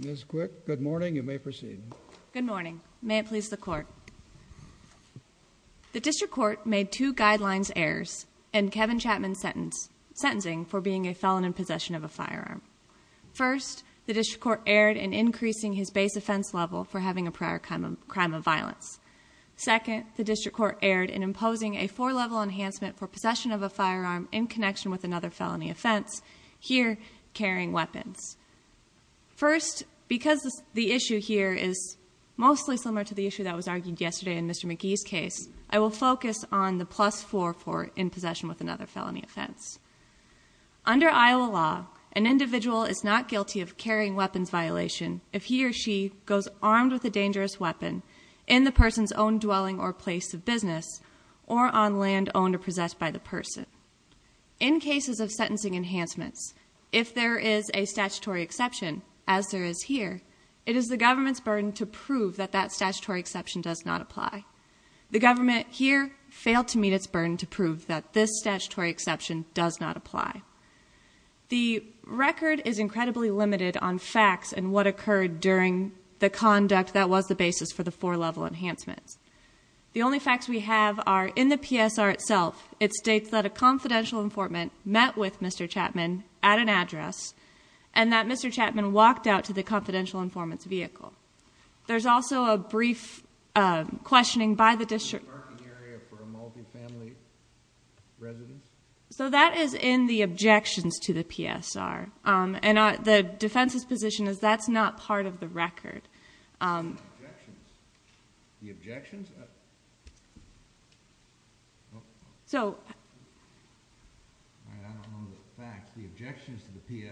The District Court made two guidelines errors in Kevin Chapman's sentencing for being a felon in possession of a firearm. First, the District Court erred in increasing his base offense level for having a prior crime of violence. Second, the District Court erred in imposing a four-level enhancement for possession of a firearm in connection with another felony offense. First, because the issue here is mostly similar to the issue that was argued yesterday in Mr. McGee's case, I will focus on the plus-four for in possession with another felony offense. Under Iowa law, an individual is not guilty of carrying weapons violation if he or she goes armed with a dangerous weapon in the person's own dwelling or place of business or on land owned or possessed by the person. In cases of sentencing enhancements, if there is a statutory exception, as there is here, it is the government's burden to prove that that statutory exception does not apply. The government here failed to meet its burden to prove that this statutory exception does not apply. The record is incredibly limited on facts and what occurred during the conduct that was the basis for the four-level enhancements. The only facts we have are, in the PSR itself, it states that a confidential informant met with Mr. Chapman at an address and that Mr. Chapman walked out to the confidential informant's vehicle. There's also a brief questioning by the District Court. So that is in the objections to the PSR and the defense's position is that's not part of the record. It's in the response to the objections to the PSR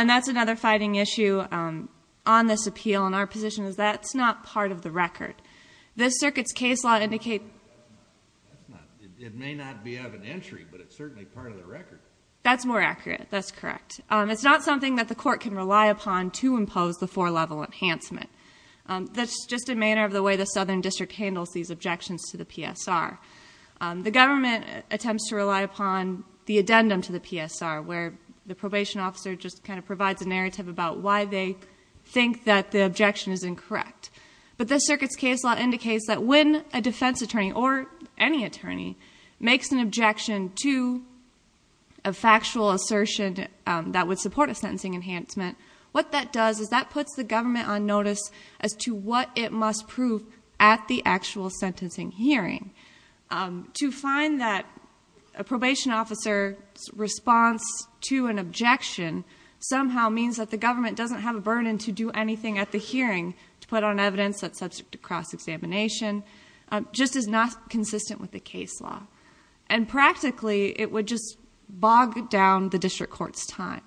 and that's another fighting issue on this appeal and our position is that's not part of the record. This circuit's case law indicates... It may not be of an entry, but it's certainly part of the record. That's more accurate. That's correct. It's not something that the court can rely upon to impose the four-level enhancement. That's just a manner of the way the Southern District handles these objections to the PSR. The government attempts to rely upon the addendum to the PSR where the probation officer just kind of provides a narrative about why they think that the objection is incorrect. But this circuit's case law indicates that when a defense attorney or any attorney makes an objection to a factual assertion that would support a sentencing enhancement, what that does is that puts the government on notice as to what it must prove at the actual sentencing hearing. To find that a probation officer's response to an objection somehow means that the government doesn't have a burden to do anything at the hearing to put on evidence that's subject to cross-examination, just is not consistent with the case law. And practically, it would just bog down the district court's time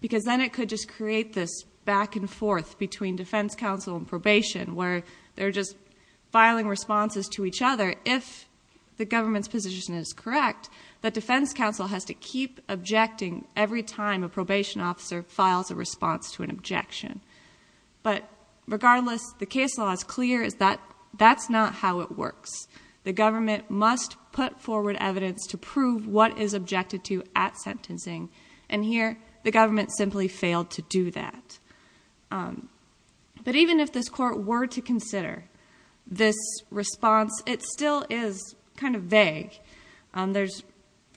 because then it could just create this back and forth between defense counsel and probation where they're just filing responses to each other if the government's position is correct that defense counsel has to keep objecting every time a probation officer files a response to an objection. But regardless, the case law is clear that that's not how it works. The government must put forward evidence to prove what is objected to at sentencing. And here, the government simply failed to do that. But even if this court were to consider this response, it still is kind of vague. There's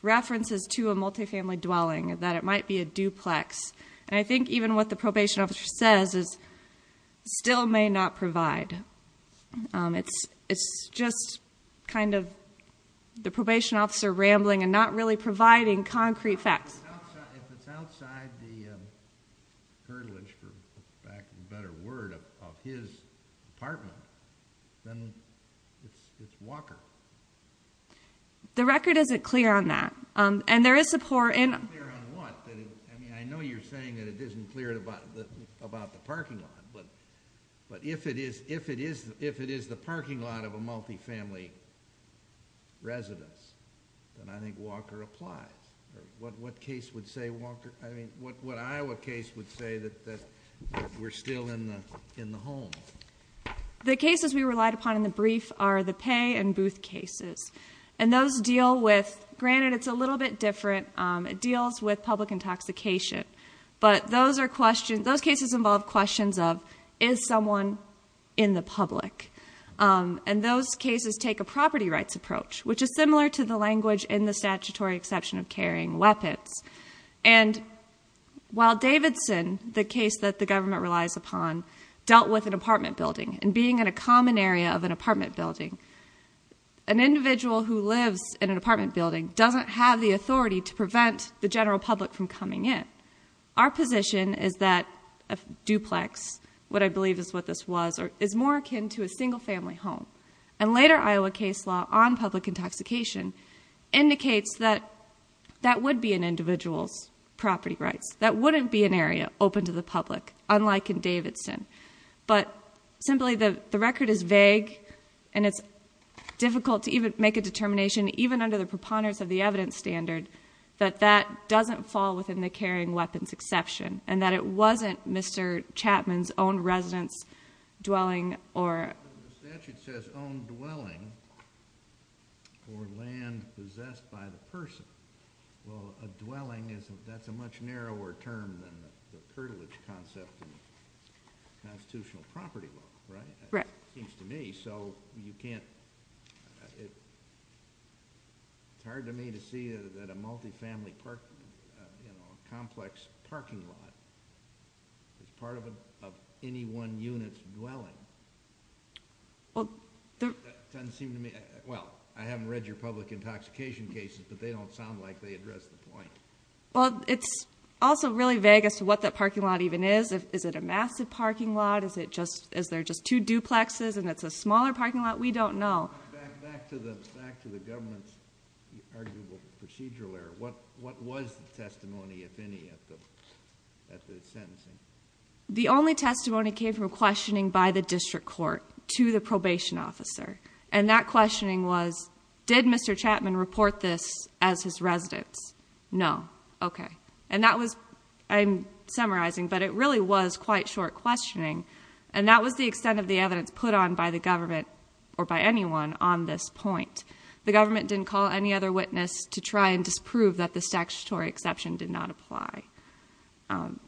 references to a multifamily dwelling, that it might be a duplex. And I think even what the probation officer says is, still may not provide. It's just kind of the probation officer rambling and not really providing concrete facts. If it's outside the, curtilage for lack of a better word, of his apartment, then it's Walker. The record isn't clear on that. And there is support in- Isn't clear on what? I know you're saying that it isn't clear about the parking lot. But if it is the parking lot of a multifamily residence, then I think Walker applies. What case would say Walker, I mean, what Iowa case would say that we're still in the home? The cases we relied upon in the brief are the pay and booth cases. And those deal with, granted, it's a little bit different. It deals with public intoxication. But those cases involve questions of, is someone in the public? And those cases take a property rights approach, which is similar to the language in the statutory exception of carrying weapons. And while Davidson, the case that the government relies upon, dealt with an apartment building and being in a common area of an apartment building, an individual who lives in an apartment building doesn't have the authority to prevent the general public from coming in. Our position is that a duplex, what I believe is what this was, is more akin to a single family home. And later Iowa case law on public intoxication indicates that that would be an individual's property rights. That wouldn't be an area open to the public, unlike in Davidson. But simply, the record is vague and it's difficult to even make a determination, even under the preponderance of the evidence standard, that that doesn't fall within the carrying weapons exception. And that it wasn't Mr. Chapman's own residence dwelling or... The statute says, own dwelling or land possessed by the person. Well, a dwelling isn't, that's a much narrower term than the curtilage concept in constitutional property law, right? It seems to me, so you can't, it's hard to me to see that a multi-family park, you know, complex parking lot is part of any one unit's dwelling. Well, it doesn't seem to me... Well, I haven't read your public intoxication cases, but they don't sound like they address the point. Well, it's also really vague as to what that parking lot even is. Is it a massive parking lot? Is it just, is there just two duplexes and it's a smaller parking lot? We don't know. Back to the government's arguable procedural error. What was the testimony, if any, at the sentencing? The only testimony came from questioning by the district court to the probation officer. And that questioning was, did Mr. Chapman report this as his residence? No. Okay. And that was, I'm summarizing, but it really was quite short questioning. And that was the extent of the evidence put on by the government or by anyone on this point. The government didn't call any other witness to try and disprove that the statutory exception did not apply. Um,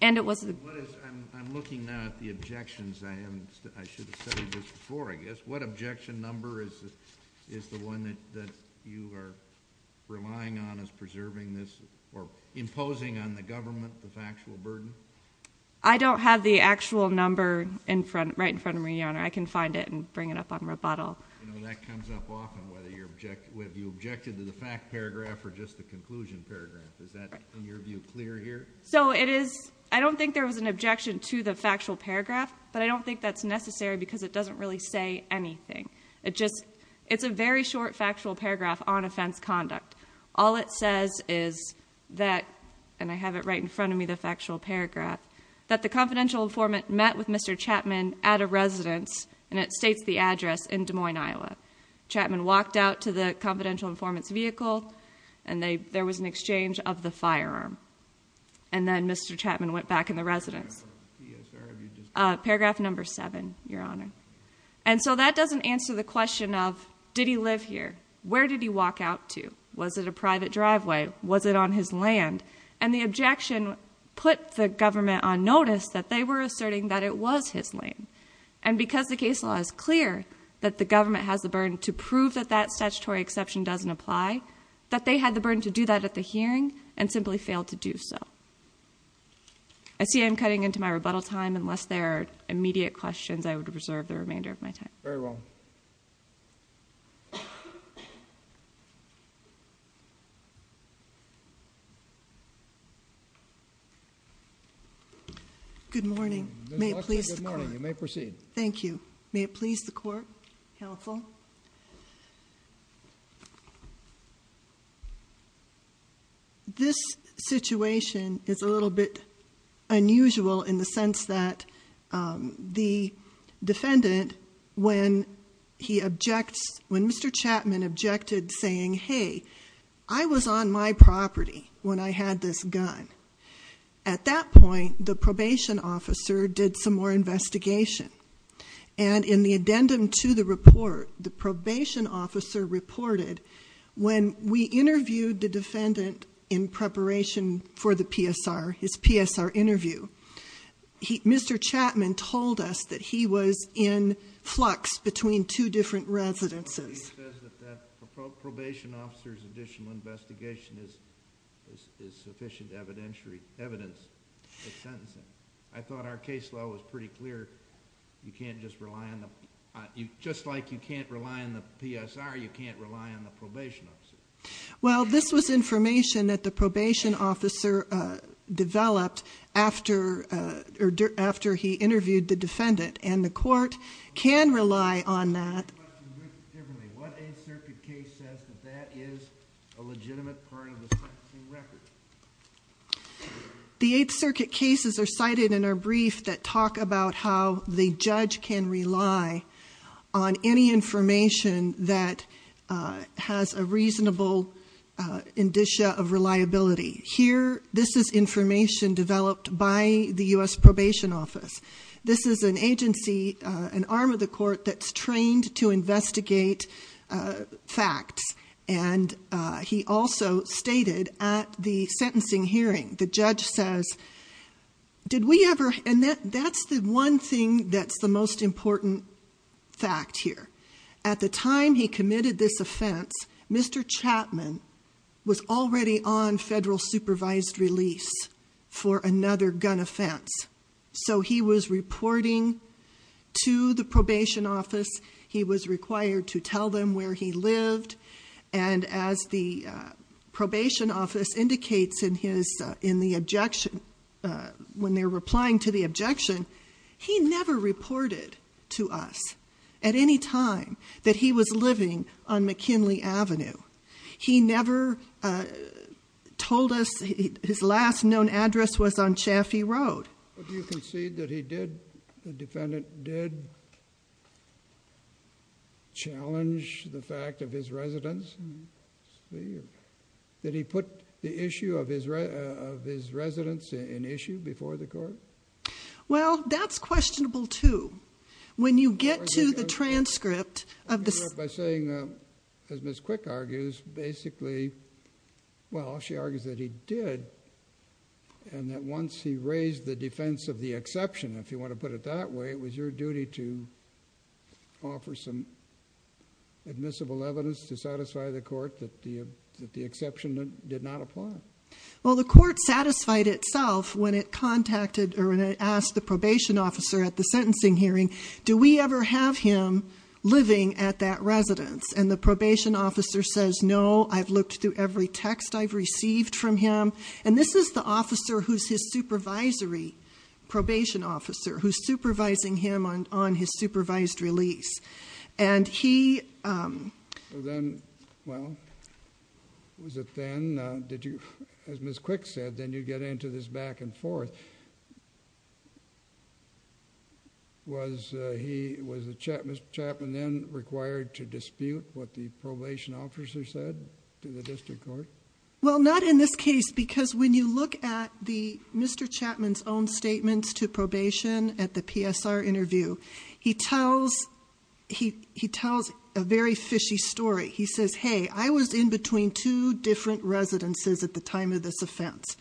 and it wasn't... What is, I'm looking now at the objections. I haven't, I should have said this before, I guess. What objection number is, is the one that, that you are relying on as preserving this or imposing on the government the factual burden? I don't have the actual number in front, right in front of me, Your Honor. I can find it and bring it up on rebuttal. You know, that comes up often, whether you're object, whether you objected to the fact paragraph or just the conclusion paragraph. Is that, in your view, clear here? So it is, I don't think there was an objection to the factual paragraph, but I don't think that's necessary because it doesn't really say anything. It just, it's a very short factual paragraph on offense conduct. All it says is that, and I have it right in front of me, the factual paragraph, that the confidential informant met with Mr. Chapman at a residence, and it states the address in Des Moines, Iowa. Chapman walked out to the confidential informant's vehicle and they, there was an exchange of the firearm. And then Mr. Chapman went back in the residence. Paragraph number seven, Your Honor. And so that doesn't answer the question of, did he live here? Where did he walk out to? Was it a private driveway? Was it on his land? And the objection put the government on notice that they were asserting that it was his land. And because the case law is clear that the government has the burden to prove that that statutory exception doesn't apply, that they had the burden to do that at the hearing and simply failed to do so. I see I'm cutting into my rebuttal time. Unless there are immediate questions, I would reserve the remainder of my time. Very well. Good morning. Good morning. You may proceed. Thank you. May it please the court. Counsel. This situation is a little bit unusual in the sense that the defendant, when he objects, when Mr. Chapman objected saying, hey, I was on my property when I had this gun. At that point, the probation officer did some more investigation. And in the addendum to the report, the probation officer reported, when we interviewed the defendant in preparation for the PSR, his PSR interview, Mr. Chapman told us that he was in flux between two different residences. He says that that probation officer's additional investigation is sufficient evidence of sentencing. I thought our case law was pretty clear. You can't just rely on the, just like you can't rely on the PSR, you can't rely on the probation. Well, this was information that the probation officer developed after he interviewed the defendant. And the court can rely on that. What 8th Circuit case says that that is a legitimate part of the sentencing record? The 8th Circuit cases are cited in our brief that talk about how the judge can rely on any information that has a reasonable indicia of reliability. Here, this is information developed by the US Probation Office. This is an agency, an arm of the court that's trained to investigate facts. And he also stated at the sentencing hearing, the judge says, did we ever, and that's the one thing that's the most important fact here. At the time he committed this offense, Mr. Chapman was already on federal supervised release for another gun offense. So he was reporting to the probation office. He was required to tell them where he lived. And as the probation office indicates in the objection, when they're replying to the objection, he never reported to us at any time that he was living on McKinley Avenue. He never told us, his last known address was on Chaffee Road. Do you concede that he did, the defendant did challenge the fact of his residence? Did he put the issue of his residence in issue before the court? Well, that's questionable too. When you get to the transcript of the- By saying, as Ms. Quick argues, basically, well, she argues that he did. And that once he raised the defense of the exception, if you want to put it that way, it was your duty to offer some admissible evidence to satisfy the court that the exception did not apply. Well, the court satisfied itself when it contacted, or when it asked the probation officer at the sentencing hearing, do we ever have him living at that residence? And the probation officer says, no, I've looked through every text I've received from him. This is the officer who's his supervisory probation officer, who's supervising him on his supervised release. And he- Then, well, was it then, did you, as Ms. Quick said, then you get into this back and forth. Was he, was the Chapman then required to dispute what the probation officer said to the district court? Well, not in this case. Because when you look at Mr. Chapman's own statements to probation at the PSR interview, he tells a very fishy story. He says, hey, I was in between two different residences at the time of this offense.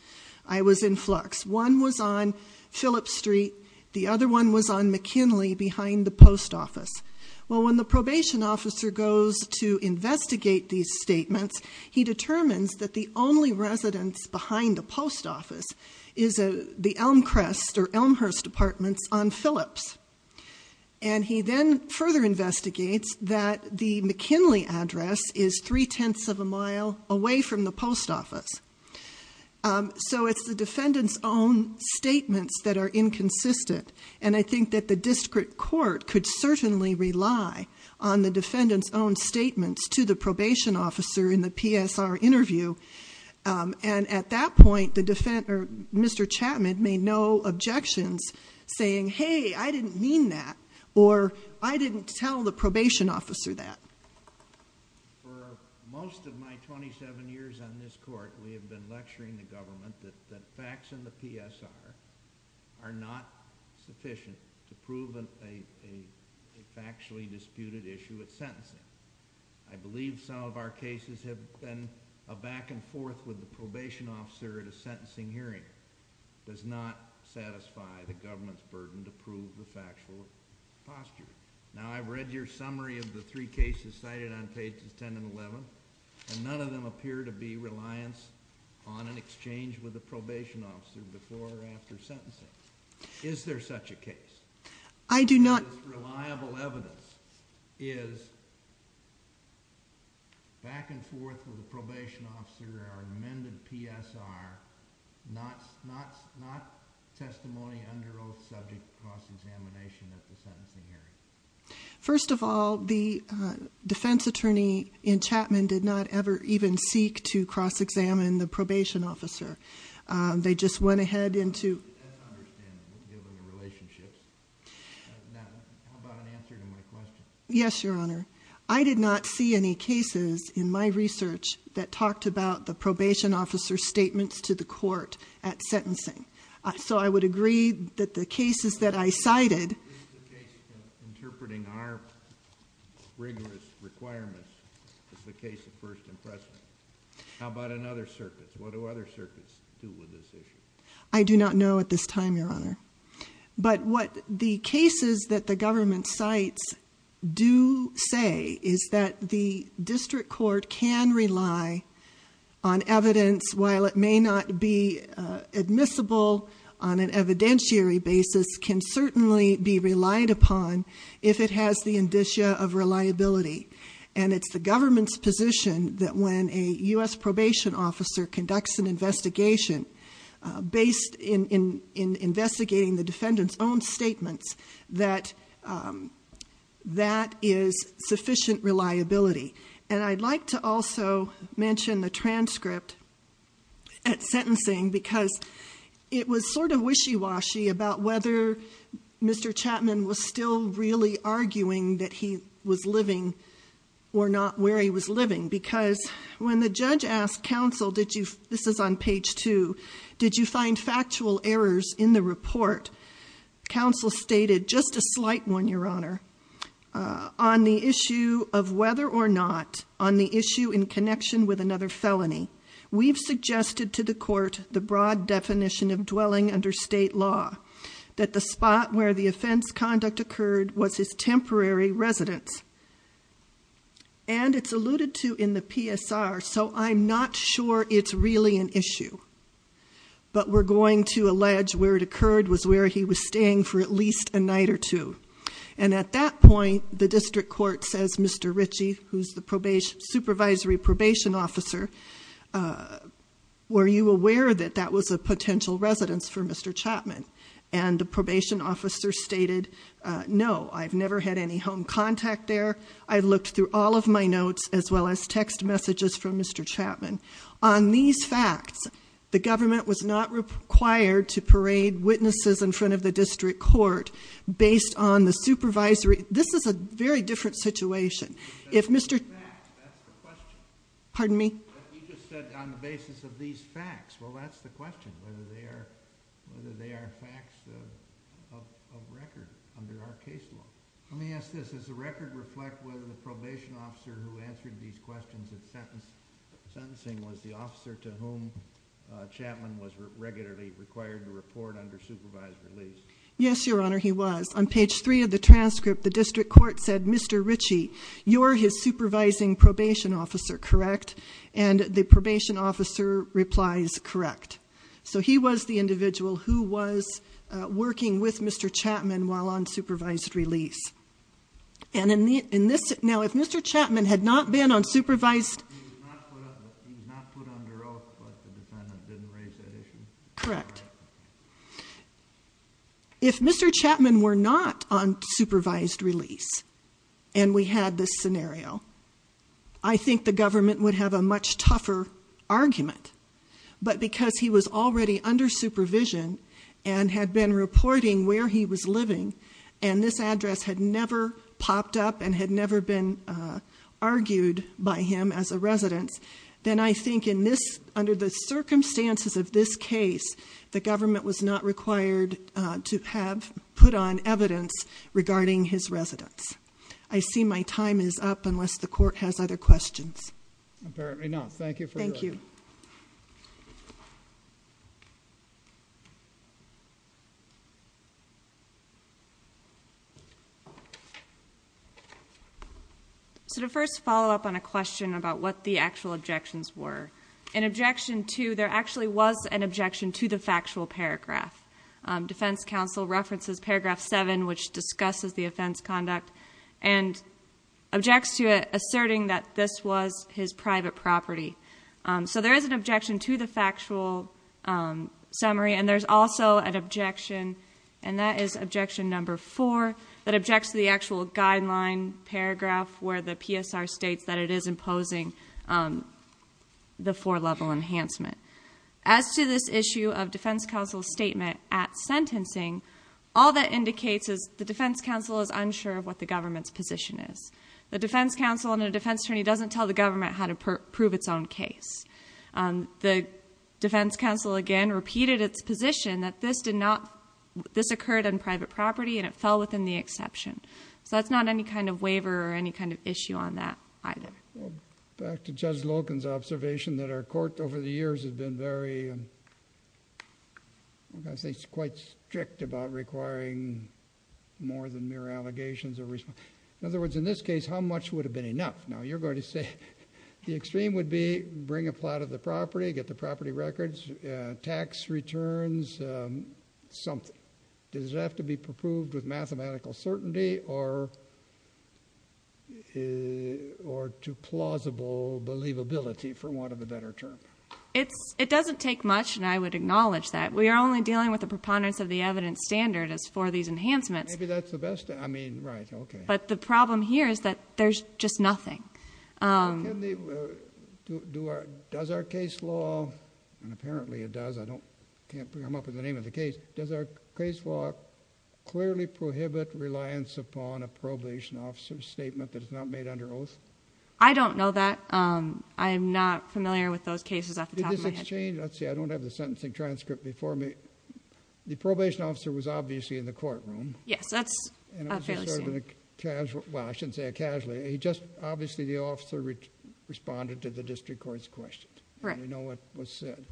I was in Flux. One was on Phillips Street. The other one was on McKinley behind the post office. Well, when the probation officer goes to investigate these statements, he determines that the only residence behind the post office is the Elmcrest or Elmhurst Apartments on Phillips. And he then further investigates that the McKinley address is three-tenths of a mile away from the post office. So it's the defendant's own statements that are inconsistent. And I think that the district court could certainly rely on the defendant's own statements to the probation officer in the PSR interview. And at that point, the defendant or Mr. Chapman made no objections saying, hey, I didn't mean that. Or I didn't tell the probation officer that. For most of my 27 years on this court, we have been lecturing the government that facts in the PSR are not sufficient to prove a factually disputed issue at sentencing. I believe some of our cases have been a back and forth with the probation officer at a sentencing hearing. It does not satisfy the government's burden to prove the factual posture. Now, I've read your summary of the three cases cited on pages 10 and 11, and none of them appear to be reliance on an exchange with the probation officer before or after sentencing. Is there such a case? I do not- This reliable evidence is back and forth with the probation officer at our amended PSR, not testimony under oath subject to cross-examination at the sentencing hearing. First of all, the defense attorney in Chapman did not ever even seek to cross-examine the probation officer. They just went ahead into- I don't understand, given the relationships. Now, how about an answer to my question? Yes, Your Honor. I did not see any cases in my research that talked about the probation officer's statements to the court at sentencing. So I would agree that the cases that I cited- Is the case interpreting our rigorous requirements as the case of first impression? How about another circuit? What do other circuits do with this issue? I do not know at this time, Your Honor. But what the cases that the government cites do say is that the district court can rely on evidence, while it may not be admissible on an evidentiary basis, can certainly be relied upon if it has the indicia of reliability. And it's the government's position that when a U.S. probation officer conducts an investigation based in investigating the defendant's own statements, that that is sufficient reliability. And I'd like to also mention the transcript at sentencing because it was sort of wishy-washy about whether Mr. Chapman was still really arguing that he was living or not where he was living. Because when the judge asked counsel, this is on page two, did you find factual errors in the report? Counsel stated just a slight one, Your Honor. On the issue of whether or not, on the issue in connection with another felony, we've suggested to the court the broad definition of dwelling under state law. That the spot where the offense conduct occurred was his temporary residence. And it's alluded to in the PSR, so I'm not sure it's really an issue. But we're going to allege where it occurred was where he was staying for at least a night or two. And at that point, the district court says, Mr. Richie, who's the supervisory probation officer, were you aware that that was a potential residence for Mr. Chapman? And the probation officer stated, no, I've never had any home contact there. I looked through all of my notes, as well as text messages from Mr. Chapman. On these facts, the government was not required to parade witnesses in front of the district court. Based on the supervisory, this is a very different situation. If Mr- That's the question. Pardon me? You just said on the basis of these facts. Well, that's the question, whether they are facts of record under our case law. Let me ask this. Does the record reflect whether the probation officer who answered these questions of sentencing was the officer to whom Chapman was regularly required to report under supervised release? Yes, Your Honor, he was. On page three of the transcript, the district court said, Mr. Richie, you're his supervising probation officer, correct? And the probation officer replies, correct. So he was the individual who was working with Mr. Chapman while on supervised release. And in this, now, if Mr. Chapman had not been on supervised- He was not put under oath, but the defendant didn't raise that issue. Correct. If Mr. Chapman were not on supervised release, and we had this scenario, I think the government would have a much tougher argument. But because he was already under supervision and had been reporting where he was living, and this address had never popped up and had never been argued by him as a resident, then I think in this, under the circumstances of this case, the government was not required to have put on evidence regarding his residence. I see my time is up unless the court has other questions. Apparently not. Thank you for your- Thank you. So to first follow up on a question about what the actual objections were, an objection to, there actually was an objection to the factual paragraph. Defense counsel references paragraph seven, which discusses the offense conduct, and objects to it, asserting that this was his private property. So there is an objection to the factual summary, and there's also an objection, and that is objection number four, that objects to the actual guideline paragraph where the PSR states that it is imposing the four-level enhancement. As to this issue of defense counsel's statement at sentencing, all that indicates is the defense counsel is unsure of what the government's position is. The defense counsel and a defense attorney doesn't tell the government how to prove its own case. The defense counsel, again, repeated its position that this did not, this occurred on private property, and it fell within the exception. So that's not any kind of waiver or any kind of issue on that either. Well, back to Judge Logan's observation that our court over the years has been very, I think, quite strict about requiring more than mere allegations of responsibility. In other words, in this case, how much would have been enough? Now, you're going to say the extreme would be bring a plot of the property, get the property records, tax returns, something. Does it have to be approved with mathematical certainty or to plausible believability, for want of a better term? It doesn't take much, and I would acknowledge that. We are only dealing with the preponderance of the evidence standard as for these enhancements. Maybe that's the best, I mean, right, okay. The problem here is that there's just nothing. Does our case law, and apparently it does, I can't come up with the name of the case, does our case law clearly prohibit reliance upon a probation officer's statement that is not made under oath? I don't know that. I'm not familiar with those cases off the top of my head. Let's see, I don't have the sentencing transcript before me. The probation officer was obviously in the courtroom. Yes, that's fairly soon. It was sort of a casual, well, I shouldn't say casually. Obviously, the officer responded to the district court's question. Right. You know what was said.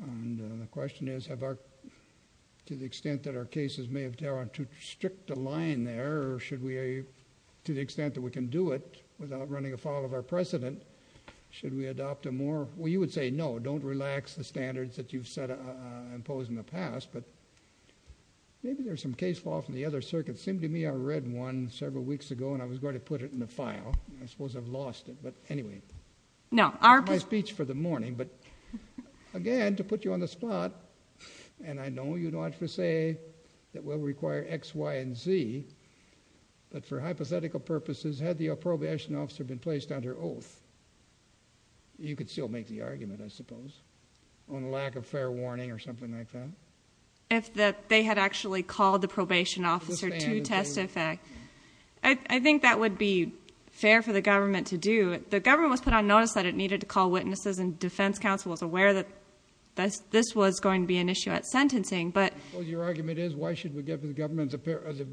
The question is, to the extent that our cases may have gone too strict a line there, to the extent that we can do it without running afoul of our precedent, should we adopt a more, well, you would say no, don't relax the standards that you've imposed in the past, but maybe there's some case law from the other circuit. It seemed to me I read one several weeks ago, and I was going to put it in the file. I suppose I've lost it, but anyway. No, our- My speech for the morning, but again, to put you on the spot, and I know you don't have to say that we'll require X, Y, and Z, but for hypothetical purposes, had the probation officer been placed under oath, you could still make the argument, I suppose, on lack of fair warning or something like that. If that they had actually called the probation officer to testify. I think that would be fair for the government to do. The government was put on notice that it needed to call witnesses, and defense counsel was aware that this was going to be an issue at sentencing, but- Well, your argument is, why should we give the government the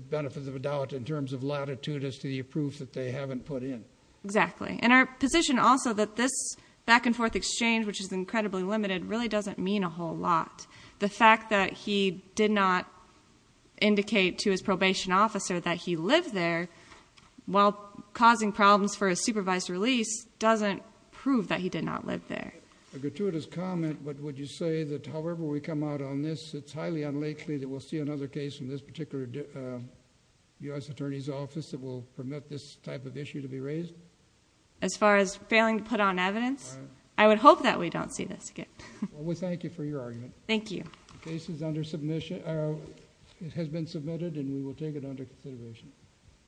benefit of the doubt in terms of latitude as to the proof that they haven't put in? Exactly. And our position also that this back and forth exchange, which is incredibly limited, really doesn't mean a whole lot. The fact that he did not indicate to his probation officer that he lived there, while causing problems for a supervised release, doesn't prove that he did not live there. A gratuitous comment, but would you say that however we come out on this, it's highly unlikely that we'll see another case in this particular U.S. Attorney's Office that will permit this type of issue to be raised? As far as failing to put on evidence? Right. I would hope that we don't see this again. Well, we thank you for your argument. Thank you. Case is under submission, or it has been submitted and we will take it under consideration.